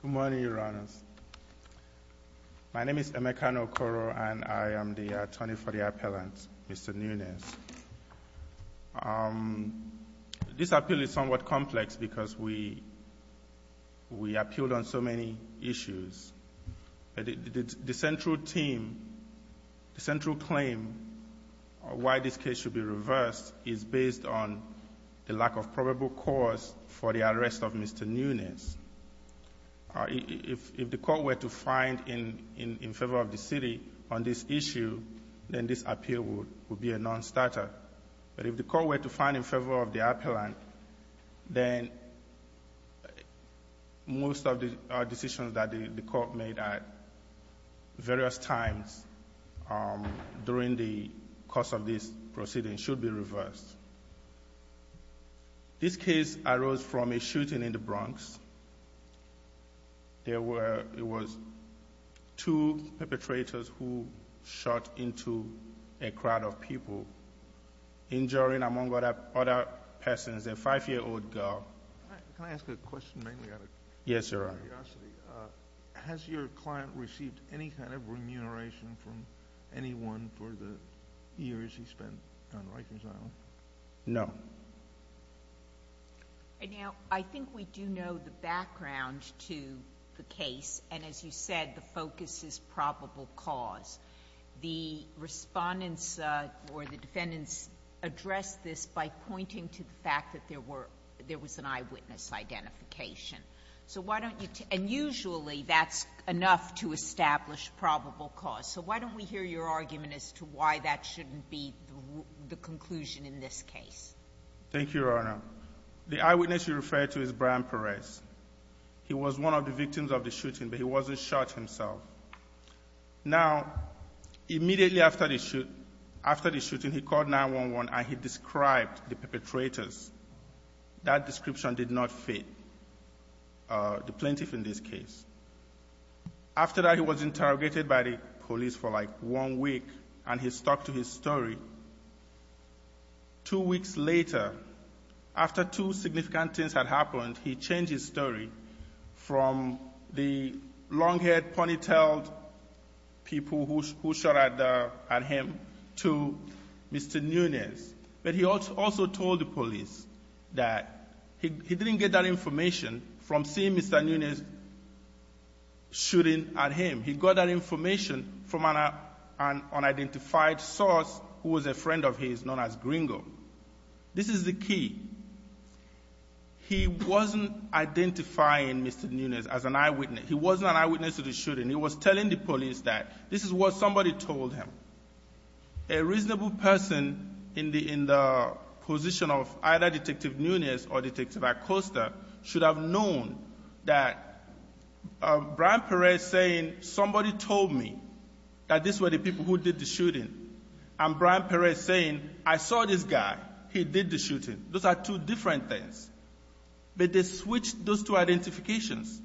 Good morning, Your Honors. My name is Emekan Okoro, and I am the attorney for the appellant, Mr. Nunez. This appeal is somewhat complex because we appealed on so many issues. The central claim why this case should be reversed is based on the lack of probable cause for the arrest of Mr. Nunez. If the court were to find in favor of the city on this issue, then this appeal would be a nonstarter. But if the court were to find in favor of the appellant, then most of the decisions that the court made at various times during the course of this proceeding should be reversed. This case arose from a shooting in the Bronx. There were two perpetrators who shot into a crowd of people, injuring among other persons, a five-year-old girl. Can I ask a question? Yes, Your Honor. Has your client received any kind of remuneration from anyone for the years he spent on Rikers Island? No. Now, I think we do know the background to the case, and as you said, the focus is probable cause. The Respondents or the Defendants addressed this by pointing to the fact that there were — there was an eyewitness identification. So why don't you — and usually that's enough to establish probable cause. So why don't we hear your argument as to why that shouldn't be the conclusion in this case? Thank you, Your Honor. The eyewitness you referred to is Brian Perez. He was one of the victims of the shooting, but he wasn't shot himself. Now, immediately after the shoot — after the shooting, he called 911 and he described the perpetrators. That description did not fit the plaintiff in this case. After that, he was interrogated by the police for, like, one week, and he stuck to his story. Two weeks later, after two significant things had happened, he changed his story from the long-haired, pony-tailed people who shot at him to Mr. Nunes. But he also told the police that he didn't get that information from seeing Mr. Nunes shooting at him. He got that information from an unidentified source who was a friend of his known as Gringo. This is the key. He wasn't identifying Mr. Nunes as an eyewitness. He wasn't an eyewitness to the shooting. He was telling the police that this is what somebody told him. A reasonable person in the — in the position of either Detective Nunes or Detective Acosta should have known that Brian Perez saying, somebody told me that this were the people who did the shooting, and Brian Perez saying, I saw this guy, he did the shooting. Those are two different things. But they switched those two identifications.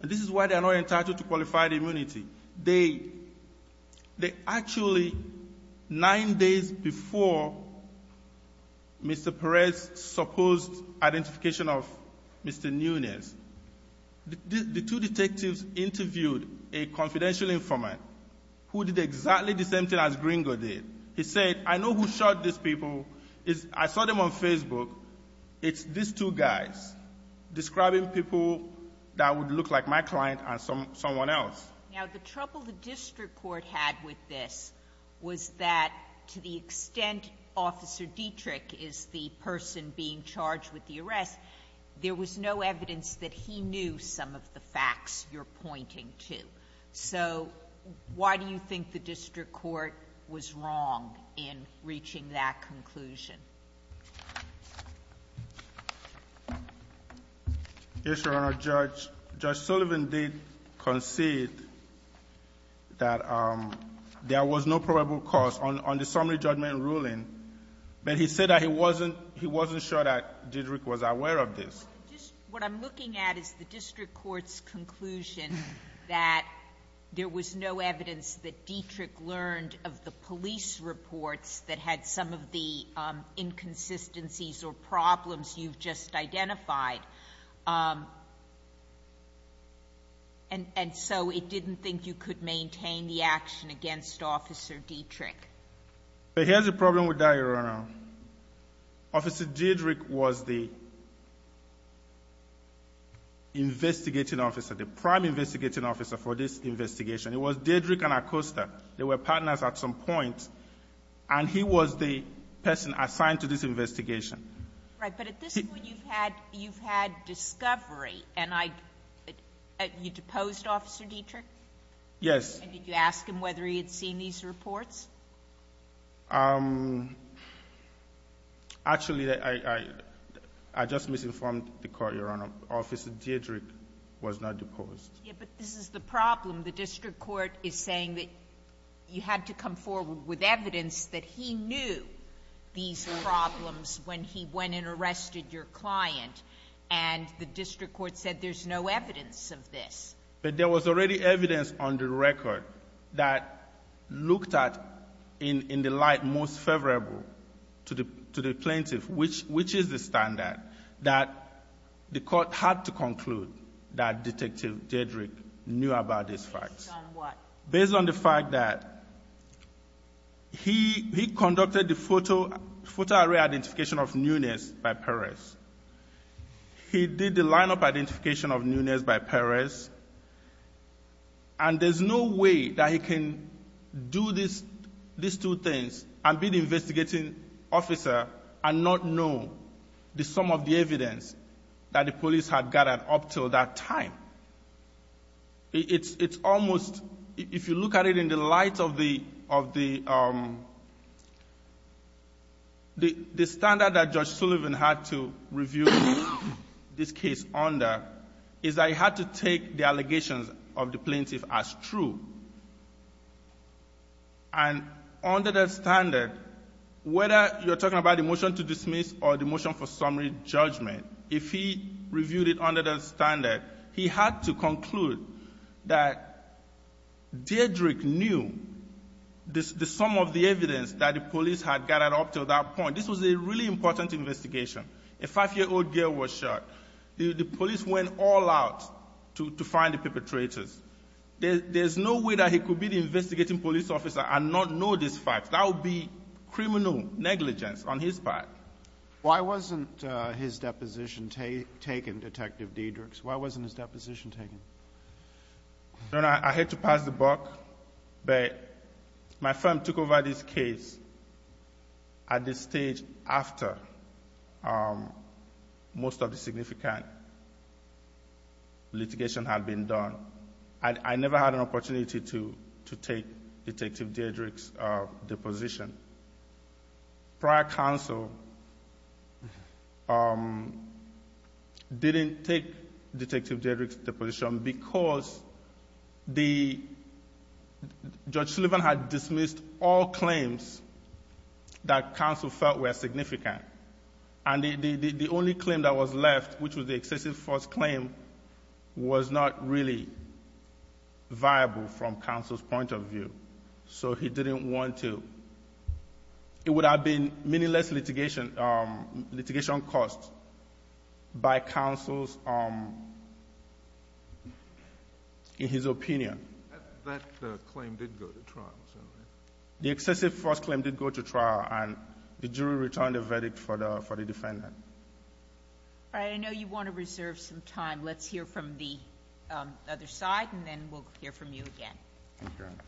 And this is why they are not entitled to qualified immunity. They — they actually, nine days before Mr. Perez told the police that he was an eyewitness, supposed identification of Mr. Nunes, the two detectives interviewed a confidential informant who did exactly the same thing as Gringo did. He said, I know who shot these people. I saw them on Facebook. It's these two guys describing people that would look like my client and someone else. Now, the trouble the district court had with this was that, to the extent Officer Dietrich is the person being charged with the arrest, there was no evidence that he knew some of the facts you're pointing to. So why do you think the district court was wrong in reaching that conclusion? Yes, Your Honor. Judge Sullivan did concede that there was no probable cause on the summary judgment ruling, but he said that he wasn't — he wasn't sure that Dietrich was aware of this. What I'm looking at is the district court's conclusion that there was no evidence that Dietrich learned of the police reports that had some of the inconsistencies or problems you've just identified. And — and so it didn't think you could maintain the action against Officer Dietrich. But here's the problem with that, Your Honor. Officer Dietrich was the investigating officer, the prime investigating officer for this investigation. It was Dietrich and Acosta. They were partners at some point. And he was the person assigned to this investigation. Right. But at this point, you've had — you've had discovery. And I — you deposed Officer Dietrich? Yes. And did you ask him whether he had seen these reports? Actually, I — I just misinformed the court, Your Honor. Officer Dietrich was not deposed. Yeah, but this is the problem. The district court is saying that you had to come forward with evidence that he knew these problems when he went and arrested your client. And the district court said there's no evidence of this. But there was already evidence on the record that looked at in — in the light most favorable to the — to the plaintiff, which — which is the standard, that the court had to conclude that Detective Dietrich knew about these facts. Based on what? Based on the fact that he — he conducted the photo — photo array identification of Nunes by Perez. He did the lineup identification of Nunes by Perez. And there's no way that he can do this — these two things and be the investigating officer and not know the sum of the evidence that the police had gathered up till that time. It's — it's almost — if you look at it in the light of the — of the — the — the standard that Judge Sullivan had to review this case under is that he had to take the allegations of the plaintiff as true. And under that standard, whether you're talking about the motion to dismiss or the motion for summary judgment, if he reviewed it under that standard, he had to conclude that Dietrich knew the — the sum of the evidence that the police had gathered up till that point. And this was a really important investigation. A 5-year-old girl was shot. The police went all out to — to find the perpetrators. There — there's no way that he could be the investigating police officer and not know these facts. That would be criminal negligence on his part. Why wasn't his deposition taken, Detective Dietrich? Why wasn't his deposition taken? Your Honor, I hate to pass the buck, but my firm took over this case at the state level stage after most of the significant litigation had been done. I — I never had an opportunity to — to take Detective Dietrich's deposition. Prior counsel didn't take Detective Dietrich's deposition because the — Judge Sullivan had dismissed all claims that counsel felt were significant. And the — the only claim that was left, which was the excessive force claim, was not really viable from counsel's point of view. So he didn't want to — it would have been many less litigation — litigation cost by counsel's — in his opinion. That — that claim did go to trial, so. The excessive force claim did go to trial, and the jury returned a verdict for the — for the defendant. All right. I know you want to reserve some time. Let's hear from the other side, and then we'll hear from you again. Thank you, Your Honor.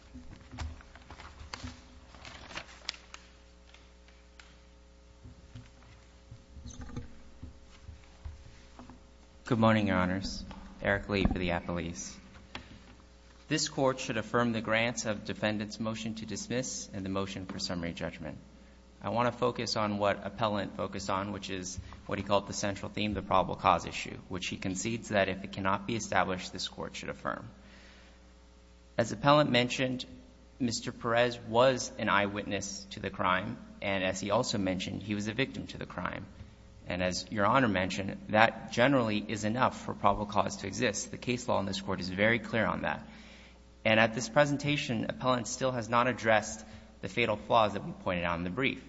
Good morning, Your Honors. Eric Lee for the appellees. This Court should affirm the grants of defendant's motion to dismiss and the motion for summary judgment. I want to focus on what Appellant focused on, which is what he called the central theme, the probable cause issue, which he concedes that if it cannot be established, this Court should affirm. As Appellant mentioned, Mr. Perez was an eyewitness to the crime, and as he also mentioned, he was a victim to the crime. And as Your Honor mentioned, that generally is enough for probable cause to exist. The case law in this Court is very clear on that. And at this presentation, Appellant still has not addressed the fatal flaws that we pointed out in the brief.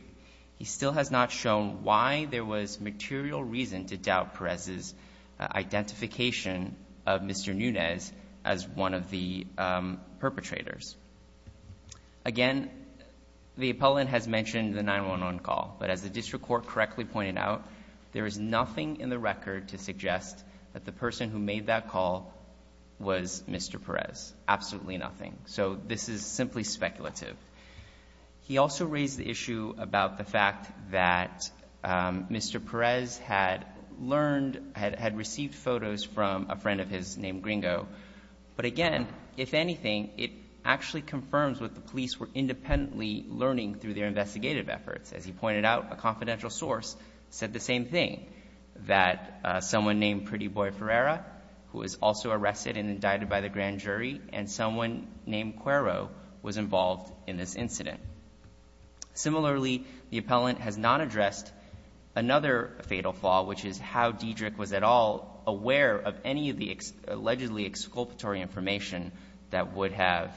He still has not shown why there was material reason to doubt Mr. Nunez as one of the perpetrators. Again, the appellant has mentioned the 911 call, but as the district court correctly pointed out, there is nothing in the record to suggest that the person who made that call was Mr. Perez, absolutely nothing. So this is simply speculative. He also raised the issue about the fact that Mr. Perez had learned, had received photos from a friend of his named Gringo. But again, if anything, it actually confirms what the police were independently learning through their investigative efforts. As he pointed out, a confidential source said the same thing, that someone named Pretty Boy Ferreira, who was also arrested and indicted by the grand jury, and someone named Cuero was involved in this incident. Similarly, the appellant has not addressed another fatal flaw, which is how Diedrich was at all aware of any of the allegedly exculpatory information that would have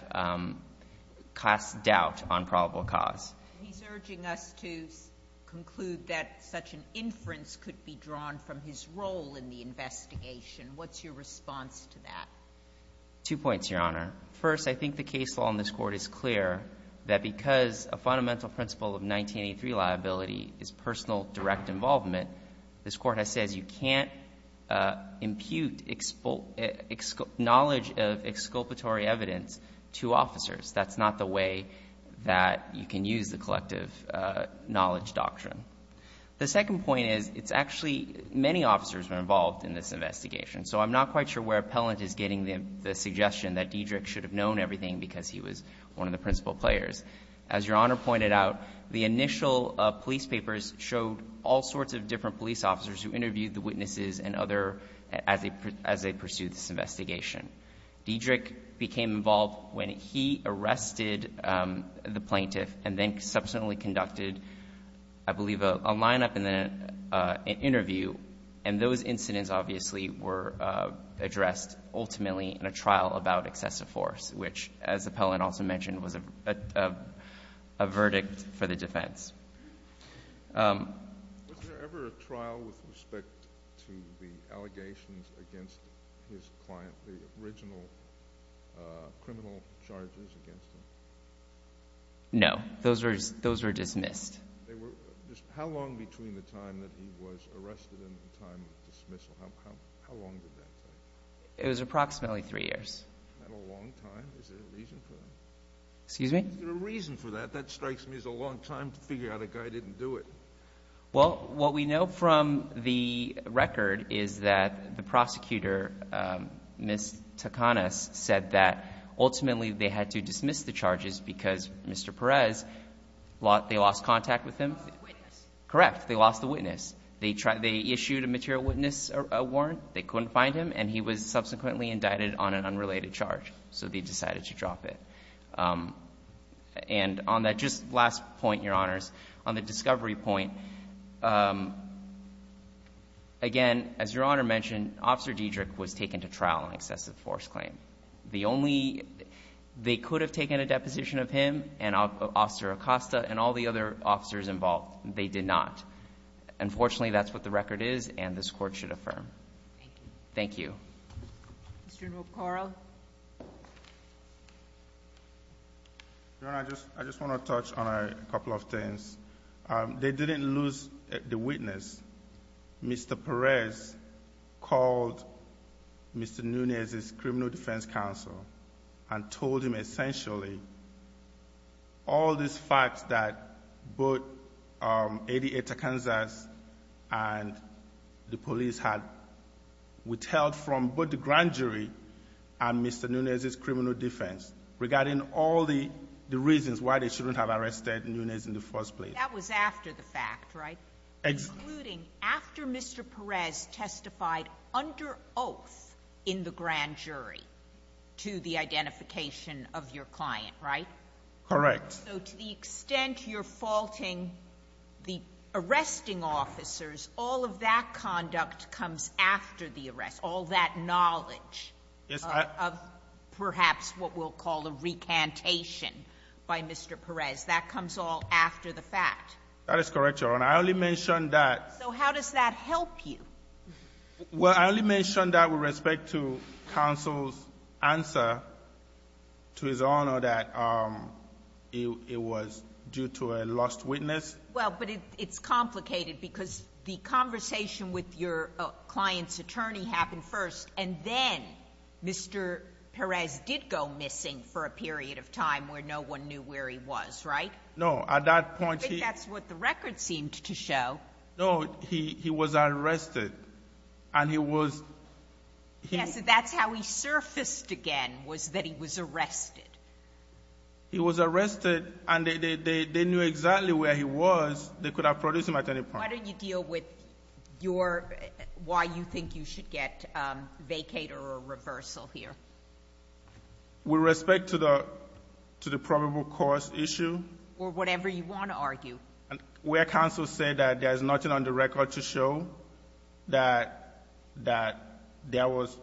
cast doubt on probable cause. He's urging us to conclude that such an inference could be drawn from his role in the investigation. What's your response to that? Two points, Your Honor. First, I think the case law in this Court is clear that because a fundamental principle of 1983 liability is personal direct involvement, this Court has said you can't impute knowledge of exculpatory evidence to officers. That's not the way that you can use the collective knowledge doctrine. The second point is, it's actually many officers were involved in this investigation. So I'm not quite sure where appellant is getting the suggestion that Diedrich should have known everything because he was one of the principal players. As Your Honor pointed out, the initial police papers showed all sorts of different police officers who interviewed the witnesses and other as they pursued this investigation. Diedrich became involved when he arrested the plaintiff and then subsequently conducted, I believe, a lineup and then an interview. And those incidents, obviously, were addressed ultimately in a trial about excessive force, which, as appellant also mentioned, was a verdict for the defense. Was there ever a trial with respect to the allegations against his client, the original criminal charges against him? No. Those were dismissed. How long between the time that he was arrested and the time of dismissal? How long did that take? It was approximately three years. Not a long time. Is there a reason for that? Excuse me? Is there a reason for that? That strikes me as a long time to figure out a guy didn't do it. Well, what we know from the record is that the prosecutor, Ms. Takanas, said that ultimately they had to dismiss the charges because Mr. Perez, they lost contact with him. They lost the witness. Correct. They lost the witness. They issued a material witness warrant. They couldn't find him, and he was subsequently indicted on an unrelated charge. So they decided to drop it. And on that just last point, Your Honors, on the discovery point, again, as Your Honor mentioned, Officer Diedrich was taken to trial on excessive force claim. The only they could have taken a deposition of him and Officer Acosta and all the other officers involved. They did not. Unfortunately, that's what the record is, and this Court should affirm. Thank you. Thank you. Mr. McCarroll. Your Honor, I just want to touch on a couple of things. They didn't lose the witness. Mr. Perez called Mr. Nunez's criminal defense counsel and told him essentially all these facts that both Eddie A. Takanas and the police had withheld from both the grand jury and Mr. Nunez's criminal defense regarding all the reasons why they shouldn't have arrested Nunez in the first place. That was after the fact, right? Including after Mr. Perez testified under oath in the grand jury to the identification of your client, right? Correct. So to the extent you're faulting the arresting officers, all of that conduct comes after the arrest, all that knowledge of perhaps what we'll call a recantation by Mr. Perez. That comes all after the fact. That is correct, Your Honor. I only mentioned that. So how does that help you? Well, I only mentioned that with respect to counsel's answer to His Honor that it was due to a lost witness. Well, but it's complicated because the conversation with your client's attorney happened first, and then Mr. Perez did go missing for a period of time where no one knew where he was, right? No. At that point, he ---- I think that's what the record seemed to show. No. He was arrested, and he was ---- Yes. That's how he surfaced again was that he was arrested. He was arrested, and they knew exactly where he was. They could have produced him at any point. Why don't you deal with your why you think you should get vacater or reversal here? With respect to the probable cause issue? Or whatever you want to argue. Where counsel said that there is nothing on the record to show that there was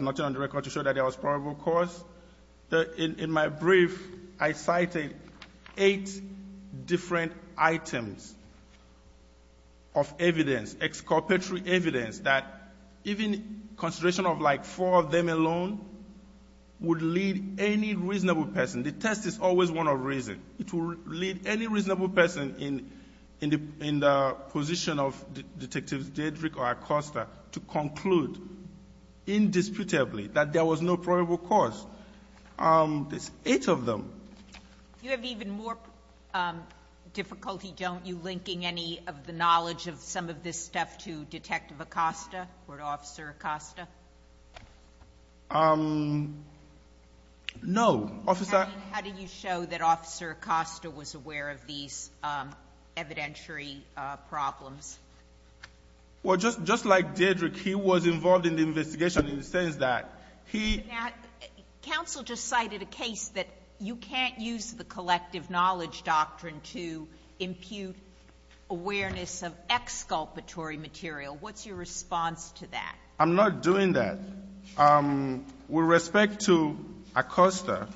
nothing on the record to show that there was probable cause, in my brief, I cited eight different items of evidence, excorporeal evidence, that even consideration of like four of them alone would lead any reasonable person. The test is always one of reason. It will lead any reasonable person in the position of Detectives Dedrick or Acosta to conclude indisputably that there was no probable cause. There's eight of them. You have even more difficulty, don't you, linking any of the knowledge of some of this stuff to Detective Acosta or Officer Acosta? No. Officer ---- Officer Acosta was aware of these evidentiary problems. Well, just like Dedrick, he was involved in the investigation in the sense that he ---- Counsel just cited a case that you can't use the collective knowledge doctrine to impute awareness of exculpatory material. What's your response to that? I'm not doing that. With respect to Acosta,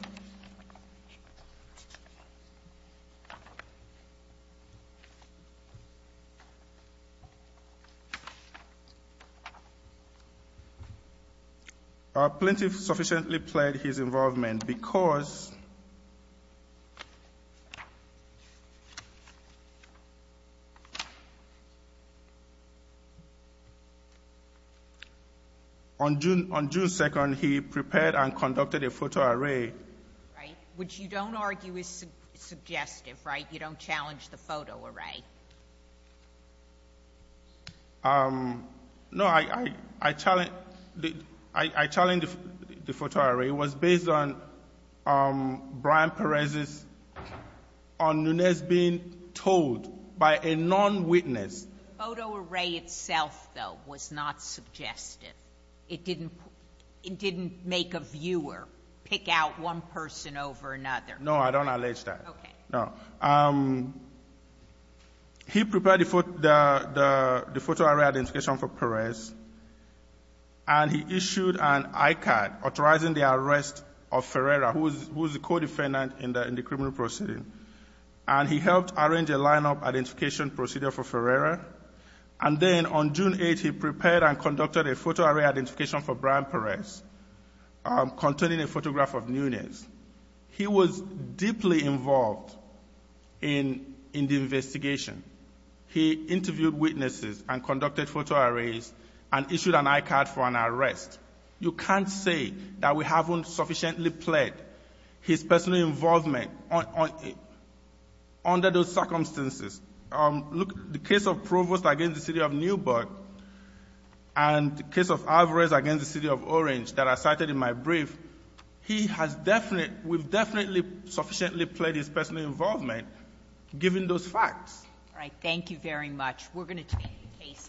Plintiff sufficiently pled his involvement because on June 2nd, he prepared and conducted a photo array. Right. Which you don't argue is suggestive, right? You don't challenge the photo array. No. I challenge the photo array. It was based on Brian Perez's on Nunez being told by a non-witness. The photo array itself, though, was not suggestive. It didn't make a viewer pick out one person over another. No. I don't allege that. Okay. No. He prepared the photo array identification for Perez, and he issued an ICAD authorizing the arrest of Ferreira, who was the co-defendant in the criminal proceeding. And he helped arrange a lineup identification procedure for Ferreira. And then on June 8th, he prepared and conducted a photo array identification for Brian Perez containing a photograph of Nunez. He was deeply involved in the investigation. He interviewed witnesses and conducted photo arrays and issued an ICAD for an arrest. You can't say that we haven't sufficiently pled his personal involvement under those circumstances. Look, the case of Provost against the city of Newburgh and the case of Alvarez against the city of Orange that I cited in my brief, he has definitely, we've definitely sufficiently pled his personal involvement given those facts. All right. Thank you very much. We're going to take the case.